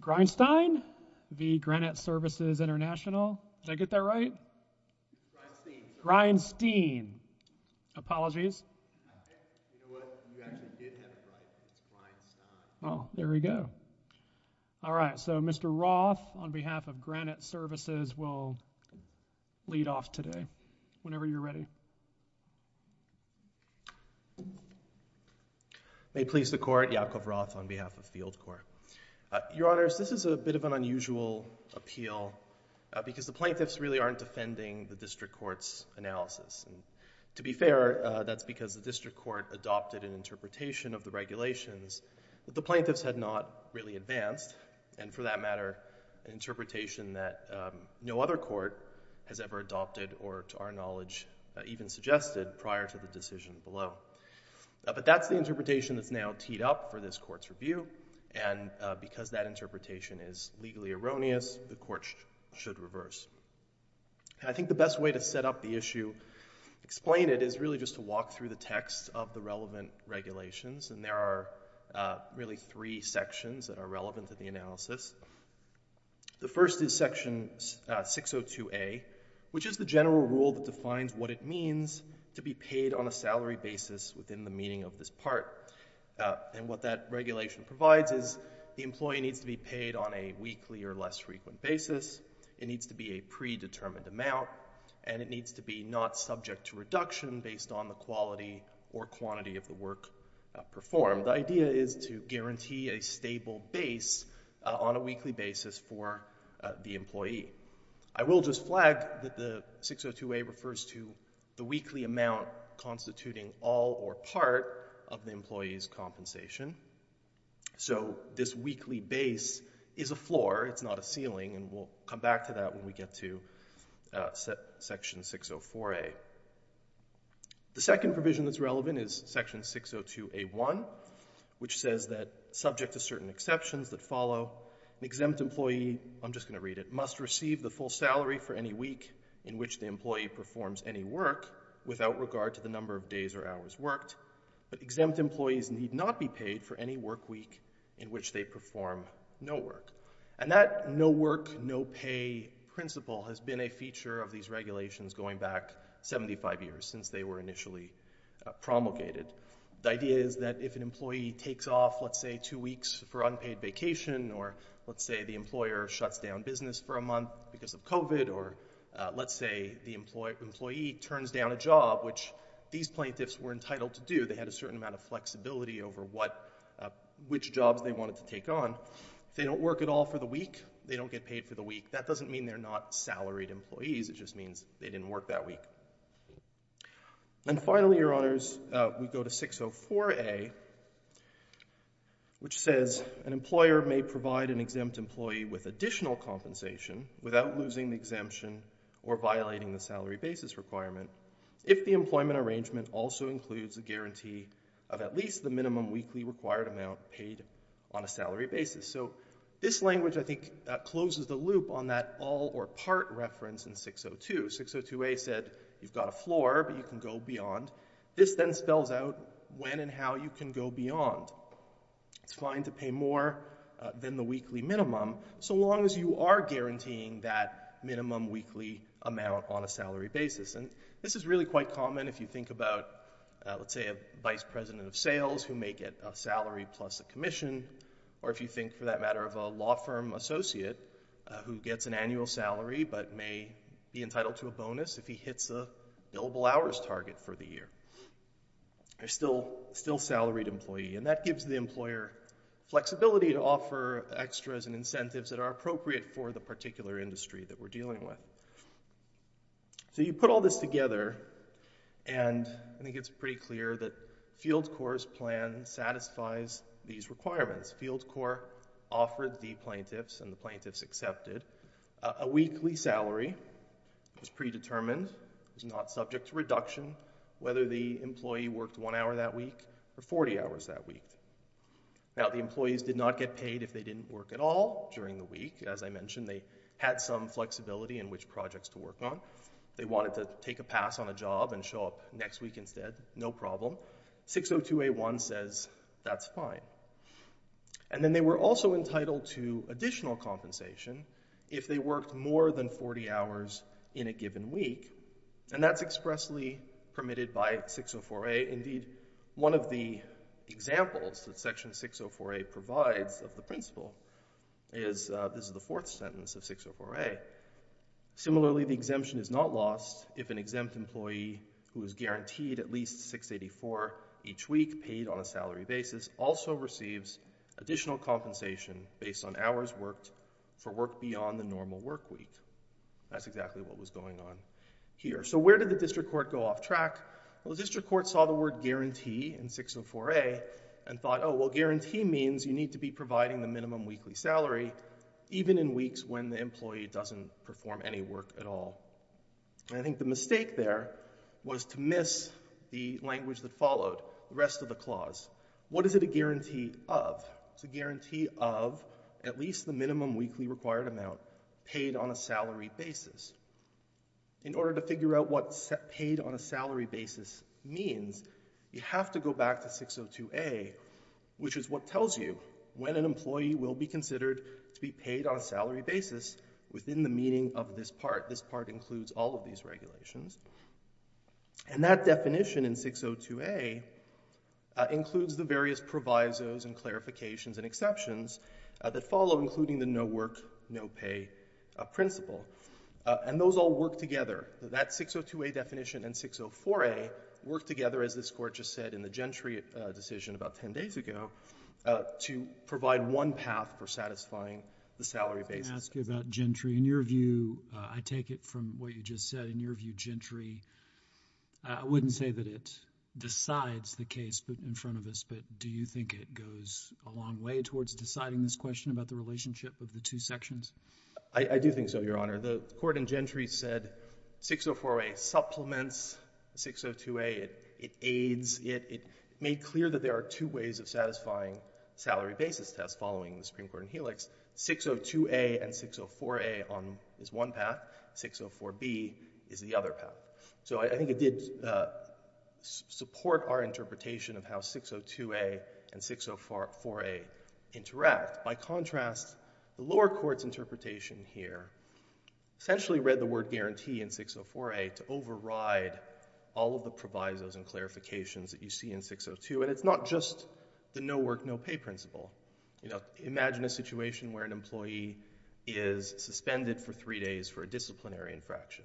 Greinstein v. Granite Services Intl. Did I get that right? Greinstein. Apologies. You know what, you actually did have it right. It's Greinstein. Oh, there we go. Alright, so Mr. Roth on behalf of Granite Services will lead off today, whenever you're ready. May it please the Court, Yakov Roth on behalf of Field Court. Your Honors, this is a bit of an unusual appeal because the plaintiffs really aren't defending the district court's analysis. To be fair, that's because the district court adopted an interpretation of the regulations that the plaintiffs had not really advanced, and for that matter, an interpretation that no other court has ever adopted or to our knowledge even suggested prior to the decision below. But that's the interpretation that's now teed up for this Court's review. And because that interpretation is legally erroneous, the Court should reverse. I think the best way to set up the issue, explain it, is really just to walk through the text of the relevant regulations. And there are really three sections that are relevant to the analysis. The first is Section 602A, which is the general rule that defines what it means to be paid on a salary basis within the meaning of this part. And what that regulation provides is the employee needs to be paid on a weekly or less frequent basis. It needs to be a predetermined amount, and it needs to be not subject to reduction based on the quality or quantity of the work performed. The idea is to guarantee a stable base on a weekly basis for the employee. I will just flag that the 602A refers to the weekly amount constituting all or part of the employee's compensation. So this weekly base is a floor, it's not a ceiling, and we'll come back to that when we get to Section 604A. The second provision that's relevant is Section 602A.1, which says that subject to certain exceptions that follow, an exempt employee—I'm just going to read it—must receive the full salary for any week in which the employee performs any work without regard to the number of days or hours worked. But exempt employees need not be paid for any work week in which they perform no work. And that no work, no pay principle has been a feature of these regulations going back 75 years, since they were initially promulgated. The idea is that if an employee takes off, let's say, two weeks for unpaid vacation, or let's say the employer shuts down business for a month because of COVID, or let's say the employee turns down a job, which these plaintiffs were entitled to do. They had a certain amount of flexibility over which jobs they wanted to take on. If they don't work at all for the week, they don't get paid for the week. That doesn't mean they're not salaried employees. It just means they didn't work that week. And finally, Your Honors, we go to 604A, which says, An employer may provide an exempt employee with additional compensation without losing the exemption or violating the salary basis requirement if the employment arrangement also includes a guarantee of at least the minimum weekly required amount paid on a salary basis. So this language, I think, closes the loop on that all or part reference in 602. 602A said you've got a floor, but you can go beyond. This then spells out when and how you can go beyond. It's fine to pay more than the weekly minimum so long as you are guaranteeing that minimum weekly amount on a salary basis. And this is really quite common if you think about, let's say, a vice president of sales who may get a salary plus a commission, or if you think, for that matter, of a law firm associate who gets an annual salary but may be entitled to a bonus if he hits a billable hours target for the year. There's still salaried employee. And that gives the employer flexibility to offer extras and incentives that are appropriate for the particular industry that we're dealing with. So you put all this together, and I think it's pretty clear that Field Corps' plan satisfies these requirements. Field Corps offered the plaintiffs and the plaintiffs accepted. A weekly salary was predetermined, was not subject to reduction, whether the employee worked one hour that week or 40 hours that week. Now, the employees did not get paid if they didn't work at all during the week. As I mentioned, they had some flexibility in which projects to work on. They wanted to take a pass on a job and show up next week instead, no problem. 602A1 says that's fine. And then they were also entitled to additional compensation if they worked more than 40 hours in a given week, and that's expressly permitted by 604A. Indeed, one of the examples that Section 604A provides of the principle is the fourth sentence of 604A. Similarly, the exemption is not lost if an exempt employee who is guaranteed at least 684 each week paid on a salary basis also receives additional compensation based on hours worked for work beyond the normal work week. That's exactly what was going on here. So where did the district court go off track? Well, the district court saw the word guarantee in 604A and thought, oh, well, guarantee means you need to be providing the minimum weekly salary even in weeks when the employee doesn't perform any work at all. And I think the mistake there was to miss the language that followed, the rest of the clause. What is it a guarantee of? It's a guarantee of at least the minimum weekly required amount paid on a salary basis. In order to figure out what paid on a salary basis means, you have to go back to 602A, which is what tells you when an employee will be considered to be paid on a salary basis within the meaning of this part. This part includes all of these regulations. And that definition in 602A includes the various provisos and clarifications and exceptions that follow, including the no work, no pay principle. And those all work together. That 602A definition and 604A work together, as this Court just said in the Gentry decision about ten days ago, to provide one path for satisfying the salary basis. Let me ask you about Gentry. In your view, I take it from what you just said, in your view, Gentry, I wouldn't say that it decides the case in front of us, but do you think it goes a long way towards deciding this question about the relationship of the two sections? I do think so, Your Honor. The Court in Gentry said 604A supplements 602A. It aids it. It made clear that there are two ways of satisfying salary basis tests following the Supreme Court in Helix. 602A and 604A is one path. 604B is the other path. So I think it did support our interpretation of how 602A and 604A interact. By contrast, the lower court's interpretation here essentially read the word guarantee in 604A to override all of the provisos and clarifications that you see in 602. And it's not just the no work, no pay principle. Imagine a situation where an employee is suspended for three days for a disciplinary infraction.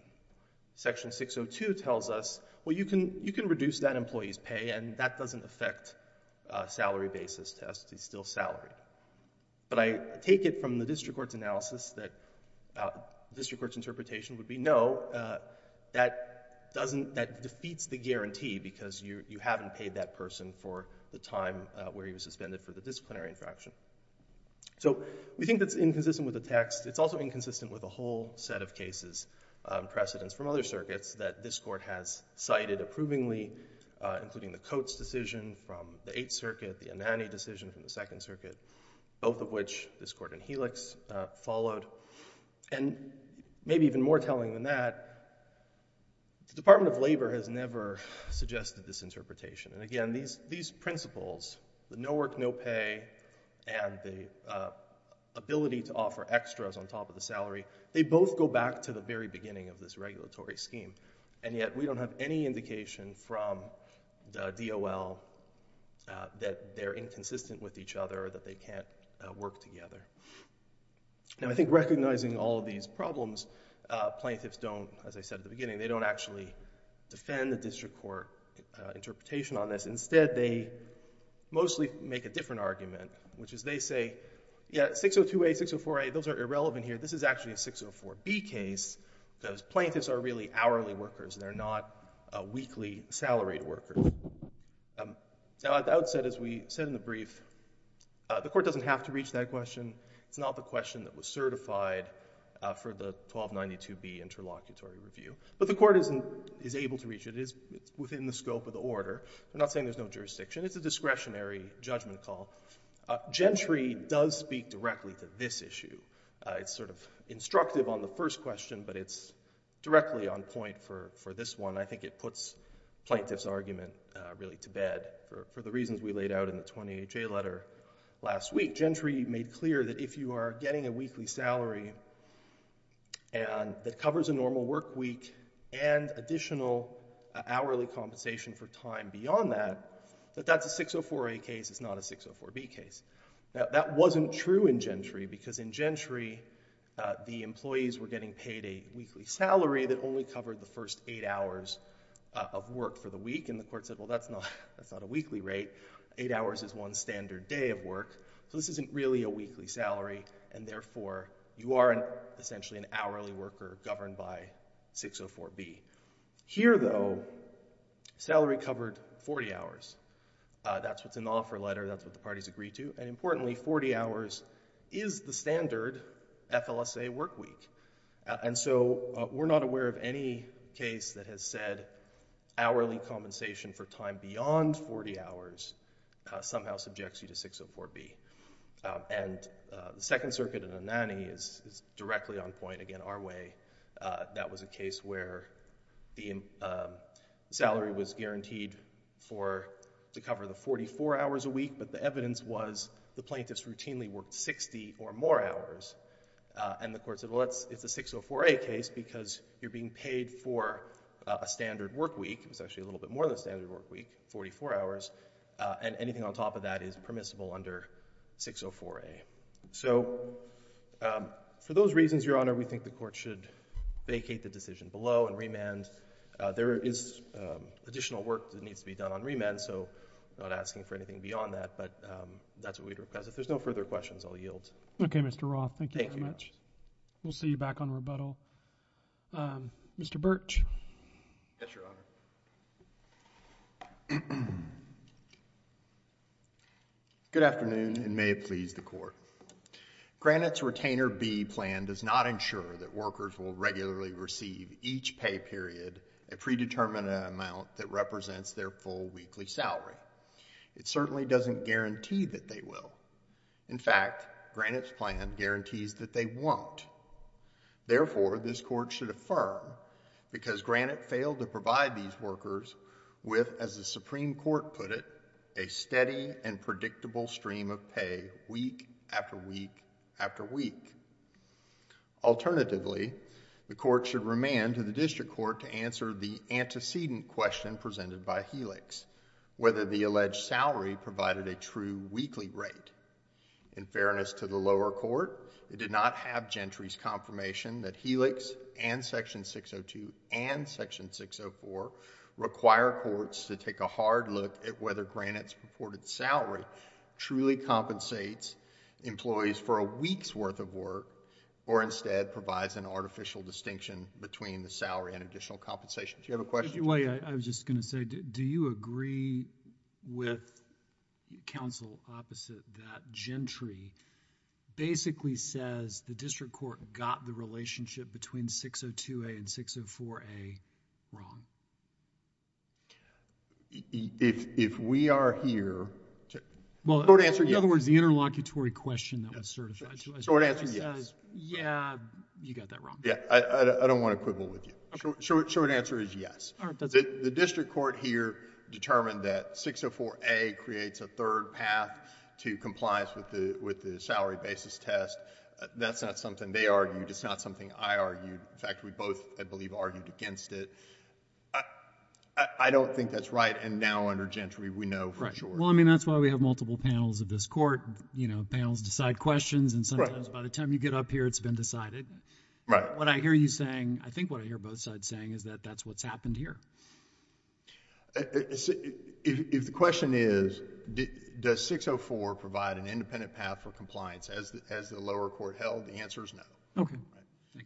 Section 602 tells us, well, you can reduce that employee's pay, and that doesn't affect salary basis tests. He's still salaried. But I take it from the district court's analysis that the district court's interpretation would be no, that defeats the guarantee because you haven't paid that person for the time where he was suspended for the disciplinary infraction. So we think that's inconsistent with the text. It's also inconsistent with a whole set of cases, precedents from other circuits, that this court has cited approvingly, including the Coates decision from the Eighth Circuit, the Anani decision from the Second Circuit, both of which this court in Helix followed. And maybe even more telling than that, the Department of Labor has never suggested this interpretation. And again, these principles, the no work, no pay, and the ability to offer extras on top of the salary, they both go back to the very beginning of this regulatory scheme. And yet we don't have any indication from the DOL that they're inconsistent with each other or that they can't work together. Now, I think recognizing all of these problems, plaintiffs don't, as I said at the beginning, they don't actually defend the district court interpretation on this. Instead, they mostly make a different argument, which is they say, yeah, 602A, 604A, those are irrelevant here. This is actually a 604B case because plaintiffs are really hourly workers. They're not weekly salaried workers. Now, at the outset, as we said in the brief, the court doesn't have to reach that question. It's not the question that was certified for the 1292B interlocutory review. But the court is able to reach it. It is within the scope of the order. I'm not saying there's no jurisdiction. It's a discretionary judgment call. Gentry does speak directly to this issue. It's sort of instructive on the first question, but it's directly on point for this one. And I think it puts plaintiff's argument really to bed for the reasons we laid out in the 20HA letter last week. Gentry made clear that if you are getting a weekly salary that covers a normal work week and additional hourly compensation for time beyond that, that that's a 604A case. It's not a 604B case. Now, that wasn't true in Gentry because in Gentry, the employees were getting paid a weekly salary that only covered the first eight hours of work for the week. And the court said, well, that's not a weekly rate. Eight hours is one standard day of work. So this isn't really a weekly salary. And therefore, you are essentially an hourly worker governed by 604B. Here, though, salary covered 40 hours. That's what's in the offer letter. That's what the parties agreed to. And importantly, 40 hours is the standard FLSA work week. And so we're not aware of any case that has said hourly compensation for time beyond 40 hours somehow subjects you to 604B. And the Second Circuit in Anani is directly on point, again, our way. That was a case where the salary was guaranteed to cover the 44 hours a week. But the evidence was the plaintiffs routinely worked 60 or more hours. And the court said, well, it's a 604A case because you're being paid for a standard work week. It's actually a little bit more than a standard work week, 44 hours. And anything on top of that is permissible under 604A. So for those reasons, Your Honor, we think the court should vacate the decision below and remand. There is additional work that needs to be done on remand. So I'm not asking for anything beyond that. But that's what we'd request. If there's no further questions, I'll yield. Okay, Mr. Roth. Thank you very much. We'll see you back on rebuttal. Mr. Birch. Yes, Your Honor. Good afternoon and may it please the court. Granite's Retainer B plan does not ensure that workers will regularly receive each pay period a predetermined amount that represents their full weekly salary. It certainly doesn't guarantee that they will. In fact, Granite's plan guarantees that they won't. Therefore, this court should affirm, because Granite failed to provide these workers with, as the Supreme Court put it, a steady and predictable stream of pay week after week after week. Alternatively, the court should remand to the district court to answer the antecedent question presented by Helix, whether the alleged salary provided a true weekly rate. In fairness to the lower court, it did not have Gentry's confirmation that Helix and Section 602 and Section 604 require courts to take a hard look at whether Granite's purported salary truly compensates employees for a week's worth of work, or instead provides an artificial distinction between the salary and additional compensation. Do you have a question? I was just going to say, do you agree with counsel opposite that Gentry basically says the district court got the relationship between 602A and 604A wrong? If we are here... Well, in other words, the interlocutory question that was certified... Short answer, yes. Yeah, you got that wrong. Yeah, I don't want to quibble with you. Short answer is yes. The district court here determined that 604A creates a third path to compliance with the salary basis test. That's not something they argued. It's not something I argued. In fact, we both, I believe, argued against it. I don't think that's right, and now under Gentry, we know for sure. Well, I mean, that's why we have multiple panels of this court. You know, panels decide questions, and sometimes by the time you get up here, it's been decided. Right. What I hear you saying, I think what I hear both sides saying is that that's what's happened here. If the question is, does 604 provide an independent path for compliance as the lower court held, the answer is no. Okay.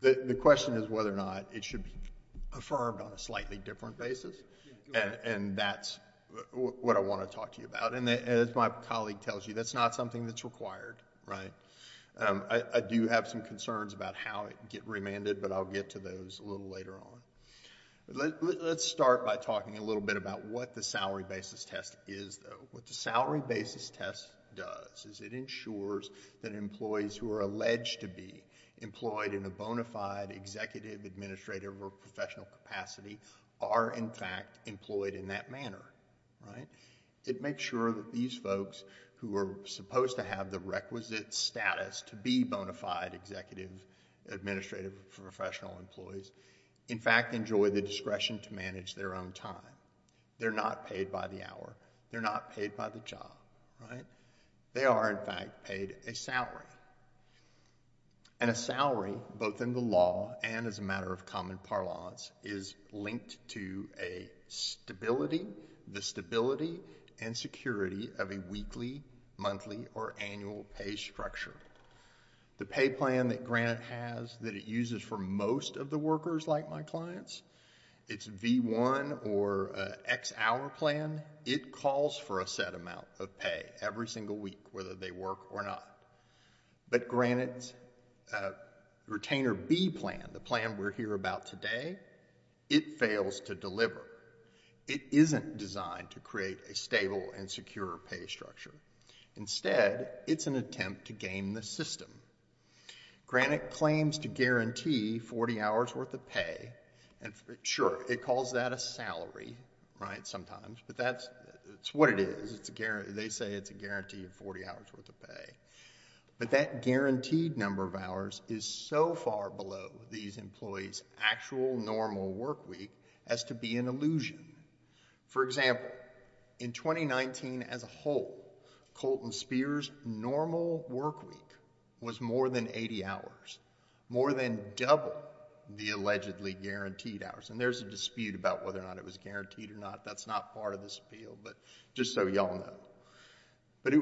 The question is whether or not it should be affirmed on a slightly different basis, and that's what I want to talk to you about. As my colleague tells you, that's not something that's required, right? I do have some concerns about how it can get remanded, but I'll get to those a little later on. Let's start by talking a little bit about what the salary basis test is, though. What the salary basis test does is it ensures that employees who are alleged to be employed in a bona fide executive, administrative, or professional capacity are, in fact, employed in that manner, right? It makes sure that these folks who are supposed to have the requisite status to be bona fide executive, administrative, or professional employees, in fact, enjoy the discretion to manage their own time. They're not paid by the hour. They're not paid by the job, right? They are, in fact, paid a salary. And a salary, both in the law and as a matter of common parlance, is linked to a stability. The stability and security of a weekly, monthly, or annual pay structure. The pay plan that Granite has that it uses for most of the workers, like my clients, it's V1 or X hour plan. It calls for a set amount of pay every single week, whether they work or not. But Granite's retainer B plan, the plan we're here about today, it fails to deliver. It isn't designed to create a stable and secure pay structure. Instead, it's an attempt to game the system. Granite claims to guarantee 40 hours worth of pay. Sure, it calls that a salary, right, sometimes. But that's what it is. They say it's a guarantee of 40 hours worth of pay. But that guaranteed number of hours is so far below these employees' actual normal work week as to be an illusion. For example, in 2019 as a whole, Colton Spears' normal work week was more than 80 hours. More than double the allegedly guaranteed hours. And there's a dispute about whether or not it was guaranteed or not. That's not part of this appeal, but just so you all know. But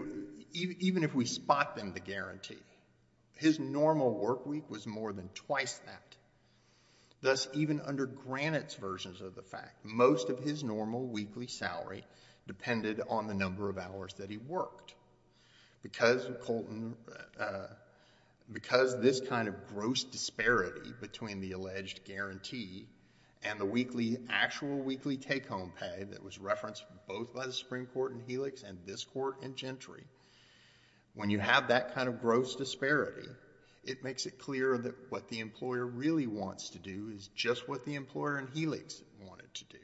even if we spot them the guarantee, his normal work week was more than twice that. Thus, even under Granite's versions of the fact, most of his normal weekly salary depended on the number of hours that he worked. Because this kind of gross disparity between the alleged guarantee and the actual weekly take-home pay that was referenced both by the Supreme Court in Helix and this court in Gentry. When you have that kind of gross disparity, it makes it clear that what the employer really wants to do is just what the employer in Helix wanted to do.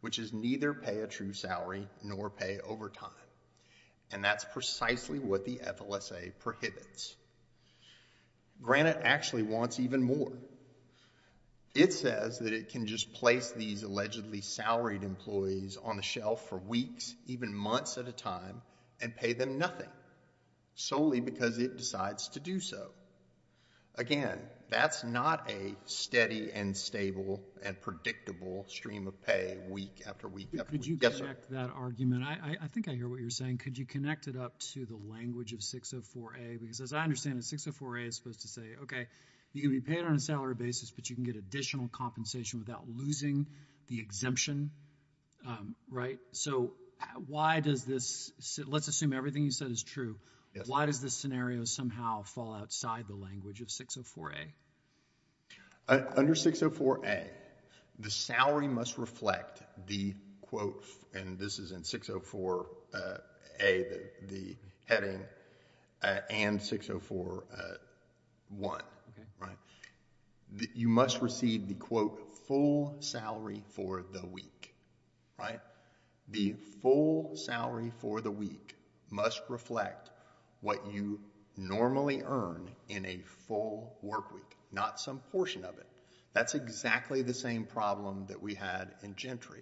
Which is neither pay a true salary nor pay overtime. And that's precisely what the FLSA prohibits. Granite actually wants even more. It says that it can just place these allegedly salaried employees on the shelf for weeks, even months at a time, and pay them nothing. Solely because it decides to do so. Again, that's not a steady and stable and predictable stream of pay week after week after week. Could you connect that argument? I think I hear what you're saying. Could you connect it up to the language of 604A? Because as I understand it, 604A is supposed to say, okay, you can be paid on a salary basis, but you can get additional compensation without losing the exemption, right? So why does this – let's assume everything you said is true. Why does this scenario somehow fall outside the language of 604A? Under 604A, the salary must reflect the quote – and this is in 604A, the heading, and 604-1, right? You must receive the quote, full salary for the week, right? The full salary for the week must reflect what you normally earn in a full work week, not some portion of it. That's exactly the same problem that we had in Gentry.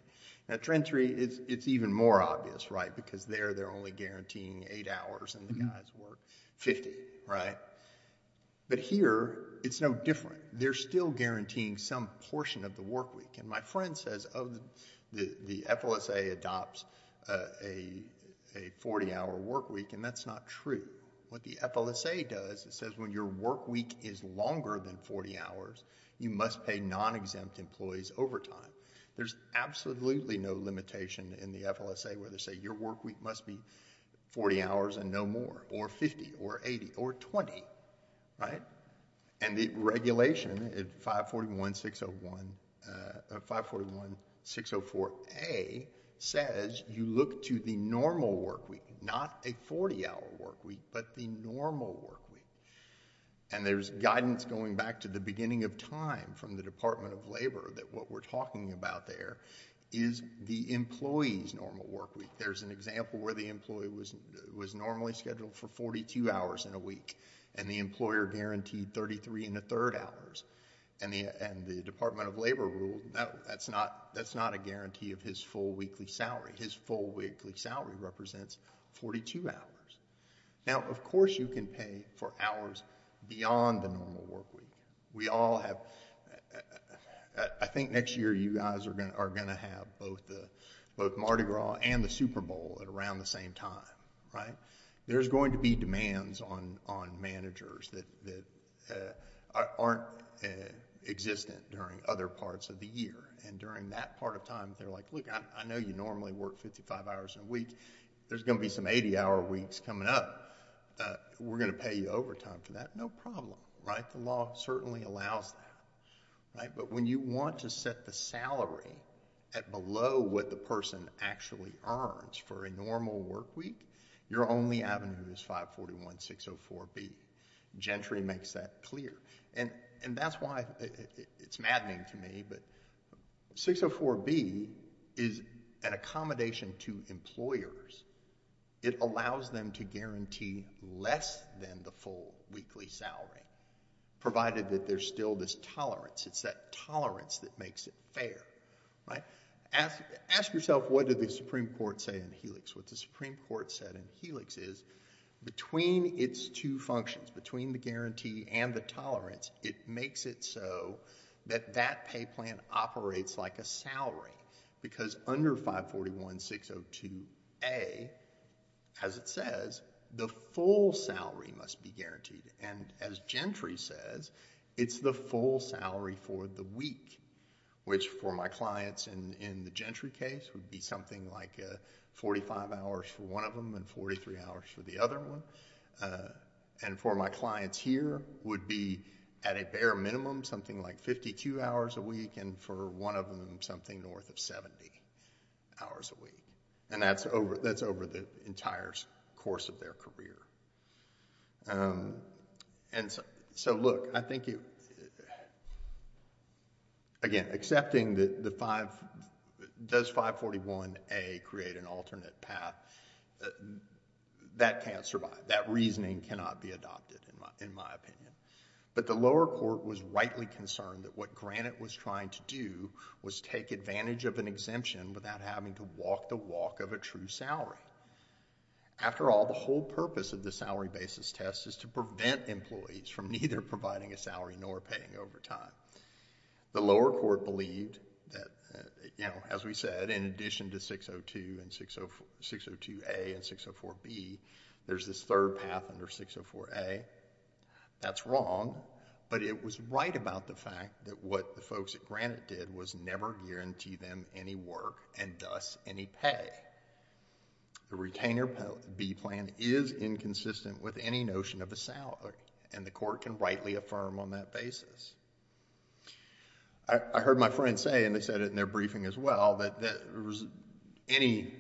At Gentry, it's even more obvious, right, because there they're only guaranteeing eight hours and the guys work 50, right? But here, it's no different. They're still guaranteeing some portion of the work week. And my friend says, oh, the FLSA adopts a 40-hour work week, and that's not true. What the FLSA does, it says when your work week is longer than 40 hours, you must pay non-exempt employees overtime. There's absolutely no limitation in the FLSA where they say your work week must be 40 hours and no more, or 50, or 80, or 20, right? And the regulation at 541-604A says you look to the normal work week, not a 40-hour work week, but the normal work week. And there's guidance going back to the beginning of time from the Department of Labor that what we're talking about there is the employee's normal work week. There's an example where the employee was normally scheduled for 42 hours in a week, and the employer guaranteed 33 and a third hours. And the Department of Labor ruled that's not a guarantee of his full weekly salary. His full weekly salary represents 42 hours. Now, of course you can pay for hours beyond the normal work week. I think next year you guys are going to have both Mardi Gras and the Super Bowl at around the same time, right? There's going to be demands on managers that aren't existent during other parts of the year. And during that part of time, they're like, look, I know you normally work 55 hours a week. There's going to be some 80-hour weeks coming up. We're going to pay you overtime for that. No problem, right? The law certainly allows that. But when you want to set the salary at below what the person actually earns for a normal work week, your only avenue is 541-604-B. Gentry makes that clear. And that's why it's maddening to me, but 604-B is an accommodation to employers. It allows them to guarantee less than the full weekly salary, provided that there's still this tolerance. It's that tolerance that makes it fair, right? Ask yourself, what did the Supreme Court say in Helix? What the Supreme Court said in Helix is between its two functions, between the guarantee and the tolerance, it makes it so that that pay plan operates like a salary. Because under 541-602-A, as it says, the full salary must be guaranteed. And as Gentry says, it's the full salary for the week, which for my clients in the Gentry case, would be something like 45 hours for one of them and 43 hours for the other one. And for my clients here, would be at a bare minimum, something like 52 hours a week, and for one of them, something north of 70 hours a week. And that's over the entire course of their career. And so look, I think it... Again, accepting that the 5... Does 541-A create an alternate path? That can't survive. That reasoning cannot be adopted, in my opinion. But the lower court was rightly concerned that what Granite was trying to do was take advantage of an exemption without having to walk the walk of a true salary. After all, the whole purpose of the salary basis test is to prevent employees from neither providing a salary nor paying overtime. The lower court believed that, as we said, in addition to 602-A and 604-B, there's this third path under 604-A. That's wrong, but it was right about the fact that what the folks at Granite did was never guarantee them any work and thus any pay. The retainer B plan is inconsistent with any notion of a salary, and the court can rightly affirm on that basis. I heard my friends say, and they said it in their briefing as well, that any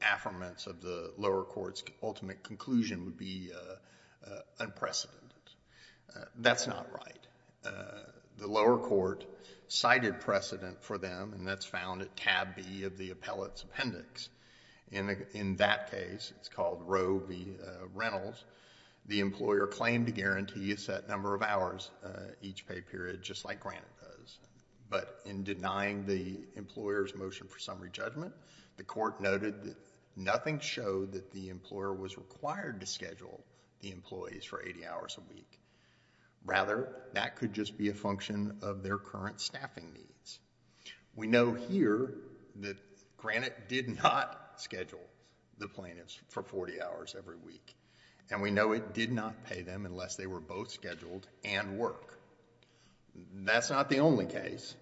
affirmance of the lower court's ultimate conclusion would be unprecedented. That's not right. The lower court cited precedent for them, and that's found at tab B of the appellate's appendix. In that case, it's called row B, Reynolds, the employer claimed to guarantee a set number of hours each pay period, just like Granite does, but in denying the employer's motion for summary judgment, the court noted that nothing showed that the employer was required to schedule the employees for 80 hours a week. Rather, that could just be a function of their current staffing needs. We know here that Granite did not schedule the plaintiffs for 40 hours every week, and we know it did not pay them unless they were both scheduled and work. That's not the only case.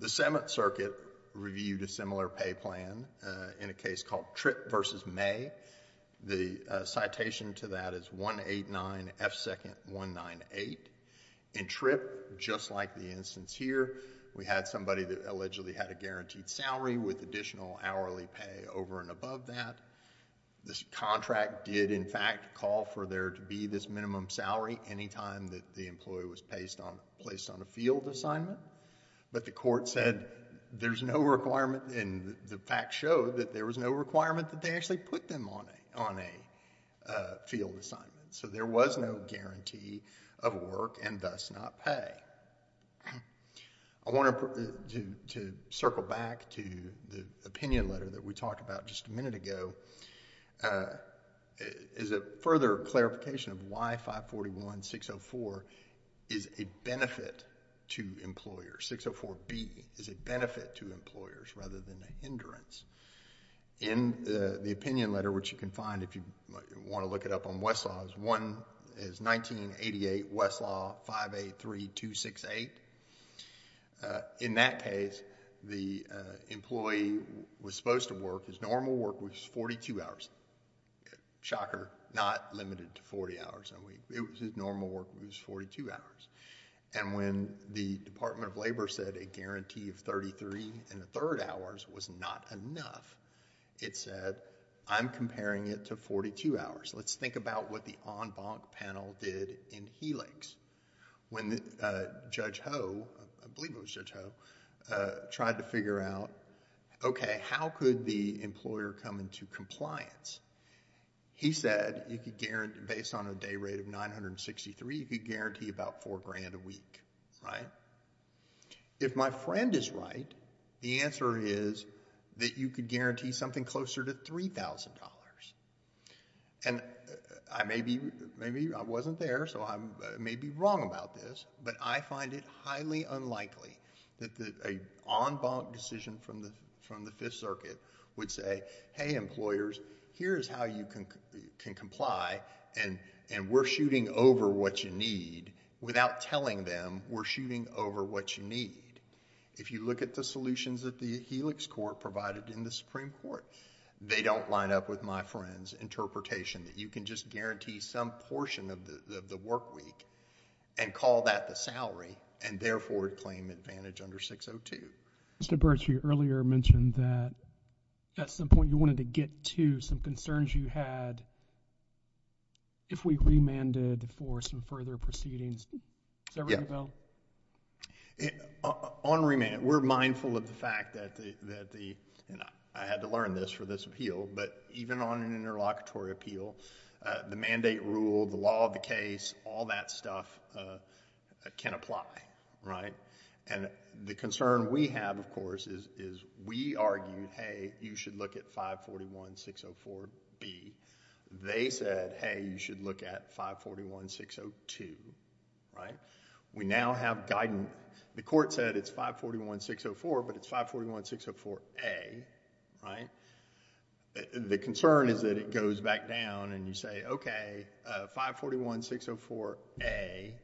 The Seventh Circuit reviewed a similar pay plan in a case called Tripp v. May. The citation to that is 189 F. 2nd. 198. In Tripp, just like the instance here, we had somebody that allegedly had a guaranteed salary with additional hourly pay over and above that. This contract did, in fact, call for there to be this minimum salary any time that the employee was placed on a field assignment, but the court said there's no requirement, and the facts showed that there was no requirement that they actually put them on a field assignment, so there was no guarantee of work and thus not pay. I want to circle back to the opinion letter that we talked about just a minute ago. It is a further clarification of why 541-604 is a benefit to employers. 604-B is a benefit to employers rather than a hindrance. In the opinion letter, which you can find if you want to look it up on Westlaw, one is 1988 Westlaw 583-268. In that case, the employee was supposed to work. His normal work was 42 hours. Shocker, not limited to 40 hours a week. His normal work was 42 hours, and when the Department of Labor said a guarantee of 33 and a third hours was not enough, it said, I'm comparing it to 42 hours. Let's think about what the en banc panel did in Helix. When Judge Ho, I believe it was Judge Ho, tried to figure out, okay, how could the employer come into compliance? He said, based on a day rate of 963, you could guarantee about four grand a week, right? If my friend is right, the answer is that you could guarantee something closer to $3,000. Maybe I wasn't there, so I may be wrong about this, but I find it highly unlikely that an en banc decision from the Fifth Circuit would say, hey, employers, here's how you can comply, and we're shooting over what you need, without telling them we're shooting over what you need. If you look at the solutions that the Helix court provided in the Supreme Court, they don't line up with my friend's interpretation that you can just guarantee some portion of the work week and call that the salary, and therefore claim advantage under 602. Mr. Bertsch, you earlier mentioned that at some point you wanted to get to some concerns you had if we remanded for some further proceedings. Is that right, Bill? On remand, we're mindful of the fact that the... and I had to learn this for this appeal, but even on an interlocutory appeal, the mandate rule, the law of the case, all that stuff can apply, right? And the concern we have, of course, is we argued, hey, you should look at 541-604-B. They said, hey, you should look at 541-602, right? We now have guidance. The court said it's 541-604, but it's 541-604-A, right? The concern is that it goes back down and you say, okay, 541-604-A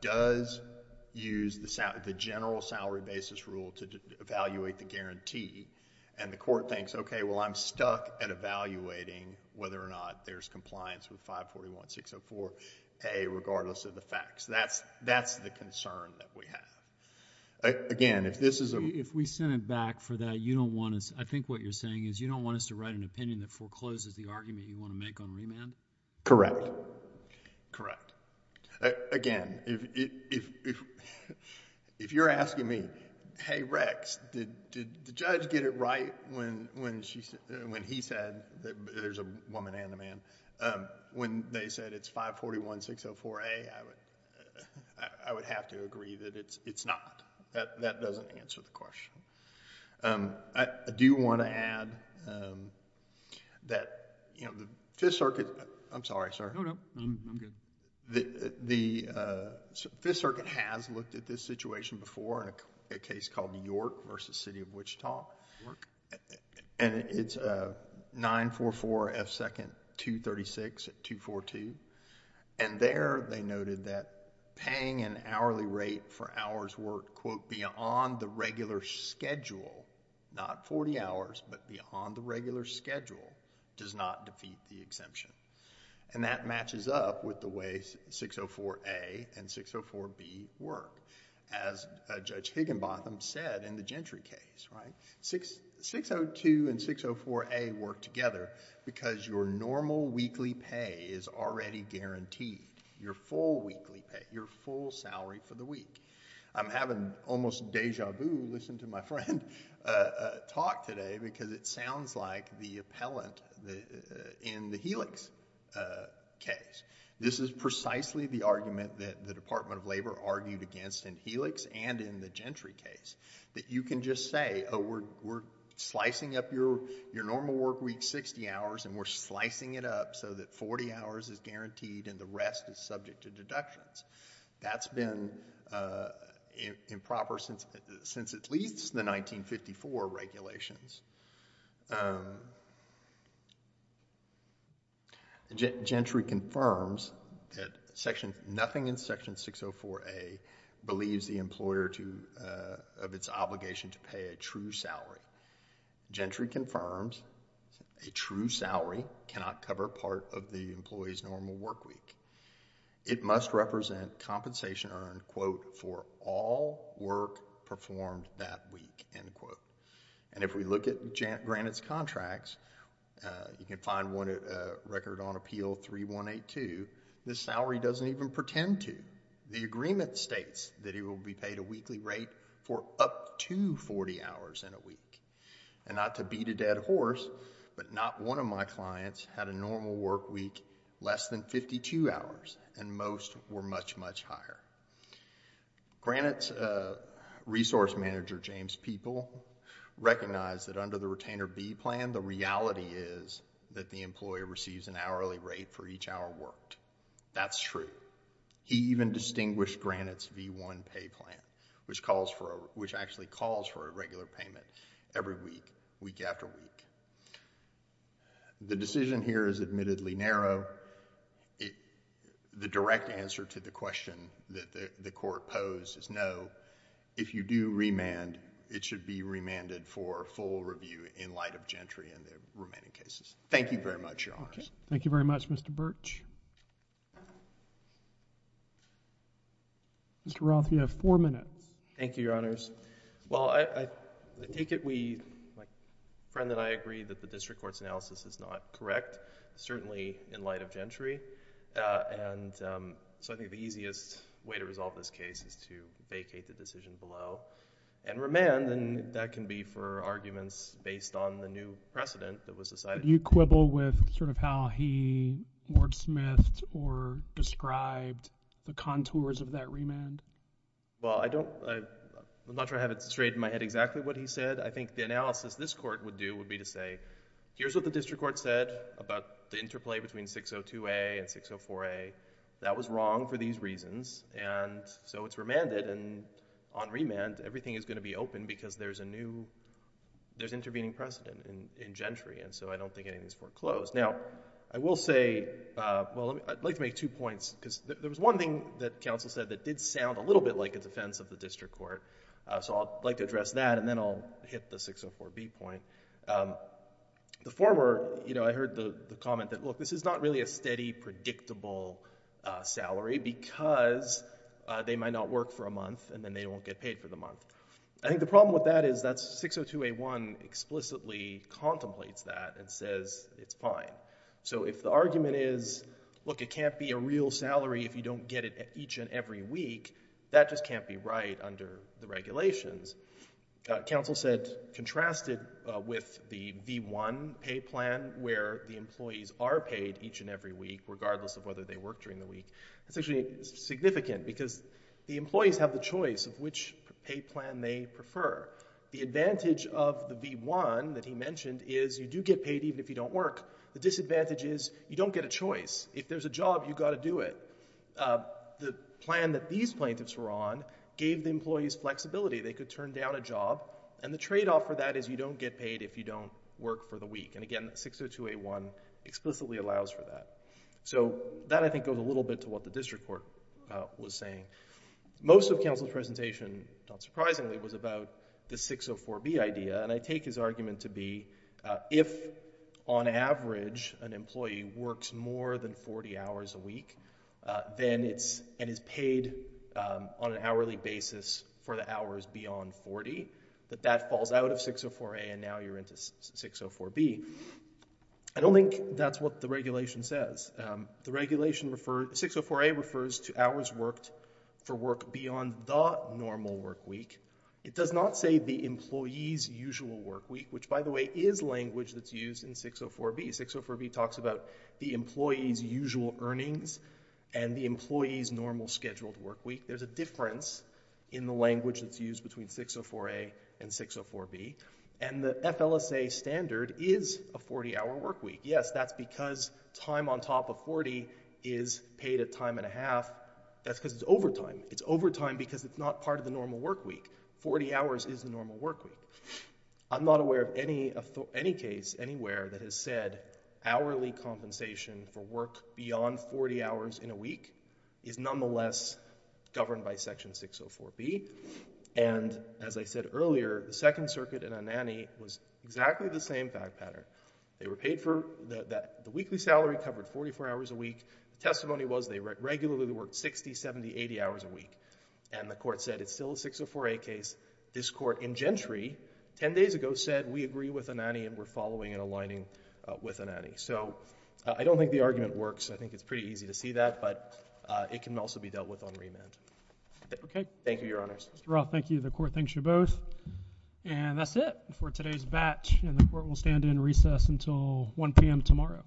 does use the general salary basis rule to evaluate the guarantee, and the court thinks, okay, well, I'm stuck at evaluating whether or not there's compliance with 541-604-A regardless of the facts. That's the concern that we have. Again, if this is a... If we send it back for that, you don't want us... I think what you're saying is you don't want us to write an opinion that forecloses the argument you want to make on remand? Correct. Correct. Again, if you're asking me, hey, Rex, did the judge get it right when he said... there's a woman and a man... When they said it's 541-604-A, I would have to agree that it's not. That doesn't answer the question. I do want to add that the Fifth Circuit... I'm sorry, sir. No, no. I'm good. The Fifth Circuit has looked at this situation before, a case called York v. City of Wichita. York. It's 944 F. 2nd, 236 at 242. There, they noted that paying an hourly rate for hours worked, quote, beyond the regular schedule, not 40 hours, but beyond the regular schedule does not defeat the exemption. That matches up with the way 604-A and 604-B work. As Judge Higginbotham said in the Gentry case, right? 602 and 604-A work together because your normal weekly pay is already guaranteed, your full weekly pay, your full salary for the week. I'm having almost deja vu, listen to my friend talk today, because it sounds like the appellant in the Helix case, this is precisely the argument that the Department of Labor argued against in Helix and in the Gentry case, that you can just say, oh, we're slicing up your normal work week 60 hours and we're slicing it up so that 40 hours is guaranteed and the rest is subject to deductions. That's been improper since at least the 1954 regulations. Gentry confirms that nothing in section 604-A believes the employer of its obligation to pay a true salary. Gentry confirms a true salary cannot cover part of the employee's normal work week. It must represent compensation earned, quote, for all work performed that week, end quote. If we look at Granite's contracts, you can find one record on Appeal 3182, the salary doesn't even pretend to. The agreement states that he will be paid a weekly rate for up to 40 hours in a week. And not to beat a dead horse, but not one of my clients had a normal work week less than 52 hours, and most were much, much higher. Granite's resource manager, James Peeple, recognized that under the retainer B plan, the reality is that the employer receives an hourly rate for each hour worked. That's true. He even distinguished Granite's V1 pay plan, which actually calls for a regular payment every week, week after week. The decision here is admittedly narrow. The direct answer to the question that the court posed is no. If you do remand, it should be remanded for full review in light of Gentry and the remaining cases. Thank you very much, Your Honors. Thank you very much, Mr. Birch. Mr. Roth, you have four minutes. Thank you, Your Honors. Well, I take it we, my friend and I agree that the district court's analysis is not correct, certainly in light of Gentry. And so I think the easiest way to resolve this case is to vacate the decision below and remand, and that can be for arguments based on the new precedent that was decided. Do you quibble with sort of how he wordsmithed or described the contours of that remand? Well, I don't, I'm not sure I have it straight in my head exactly what he said. I think the analysis this court would do would be to say, here's what the district court said about the interplay between 602A and 604A. That was wrong for these reasons, and so it's remanded. And on remand, everything is going to be open because there's a new, there's intervening precedent in Gentry. And so I don't think anything is foreclosed. Now, I will say, well, I'd like to make two points because there was one thing that counsel said that did sound a little bit like a defense of the district court. So I'd like to address that, and then I'll hit the 604B point. The former, you know, I heard the comment that, look, this is not really a steady, predictable salary because they might not work for a month, and then they won't get paid for the month. I think the problem with that is that 602A1 explicitly contemplates that and says it's fine. So if the argument is, look, it can't be a real salary if you don't get it each and every week, that just can't be right under the regulations. Counsel said, contrast it with the V1 pay plan where the employees are paid each and every week, regardless of whether they work during the week. That's actually significant because the employees have the choice of which pay plan they prefer. The advantage of the V1 that he mentioned is you do get paid even if you don't work. The disadvantage is you don't get a choice. If there's a job, you've got to do it. The plan that these plaintiffs were on gave the employees flexibility. They could turn down a job, and the trade-off for that is you don't get paid if you don't work for the week. And again, 602A1 explicitly allows for that. So that, I think, goes a little bit to what the district court was saying. Most of counsel's presentation, not surprisingly, was about the 604B idea, and I take his argument to be if, on average, an employee works more than 40 hours a week and is paid on an hourly basis for the hours beyond 40, that that falls out of 604A and now you're into 604B. I don't think that's what the regulation says. The regulation referred... 604A refers to hours worked for work beyond the normal work week. It does not say the employee's usual work week, which, by the way, is language that's used in 604B. 604B talks about the employee's usual earnings and the employee's normal scheduled work week. There's a difference in the language that's used between 604A and 604B. And the FLSA standard is a 40-hour work week. Yes, that's because time on top of 40 is paid at time and a half. That's because it's overtime. It's overtime because it's not part of the normal work week. 40 hours is the normal work week. I'm not aware of any case anywhere that has said hourly compensation for work beyond 40 hours in a week is nonetheless governed by Section 604B. And, as I said earlier, the Second Circuit and Anani was exactly the same fact pattern. They were paid for the weekly salary covered 44 hours a week. The testimony was they regularly worked 60, 70, 80 hours a week. And the Court said it's still a 604A case. This Court in Gentry 10 days ago said we agree with Anani and we're following and aligning with Anani. So I don't think the argument works. I think it's pretty easy to see that, but it can also be dealt with on remand. Okay. Thank you, Your Honors. Mr. Roth, thank you. The Court thanks you both. And that's it for today's batch. And the Court will stand in recess until 1 p.m. tomorrow.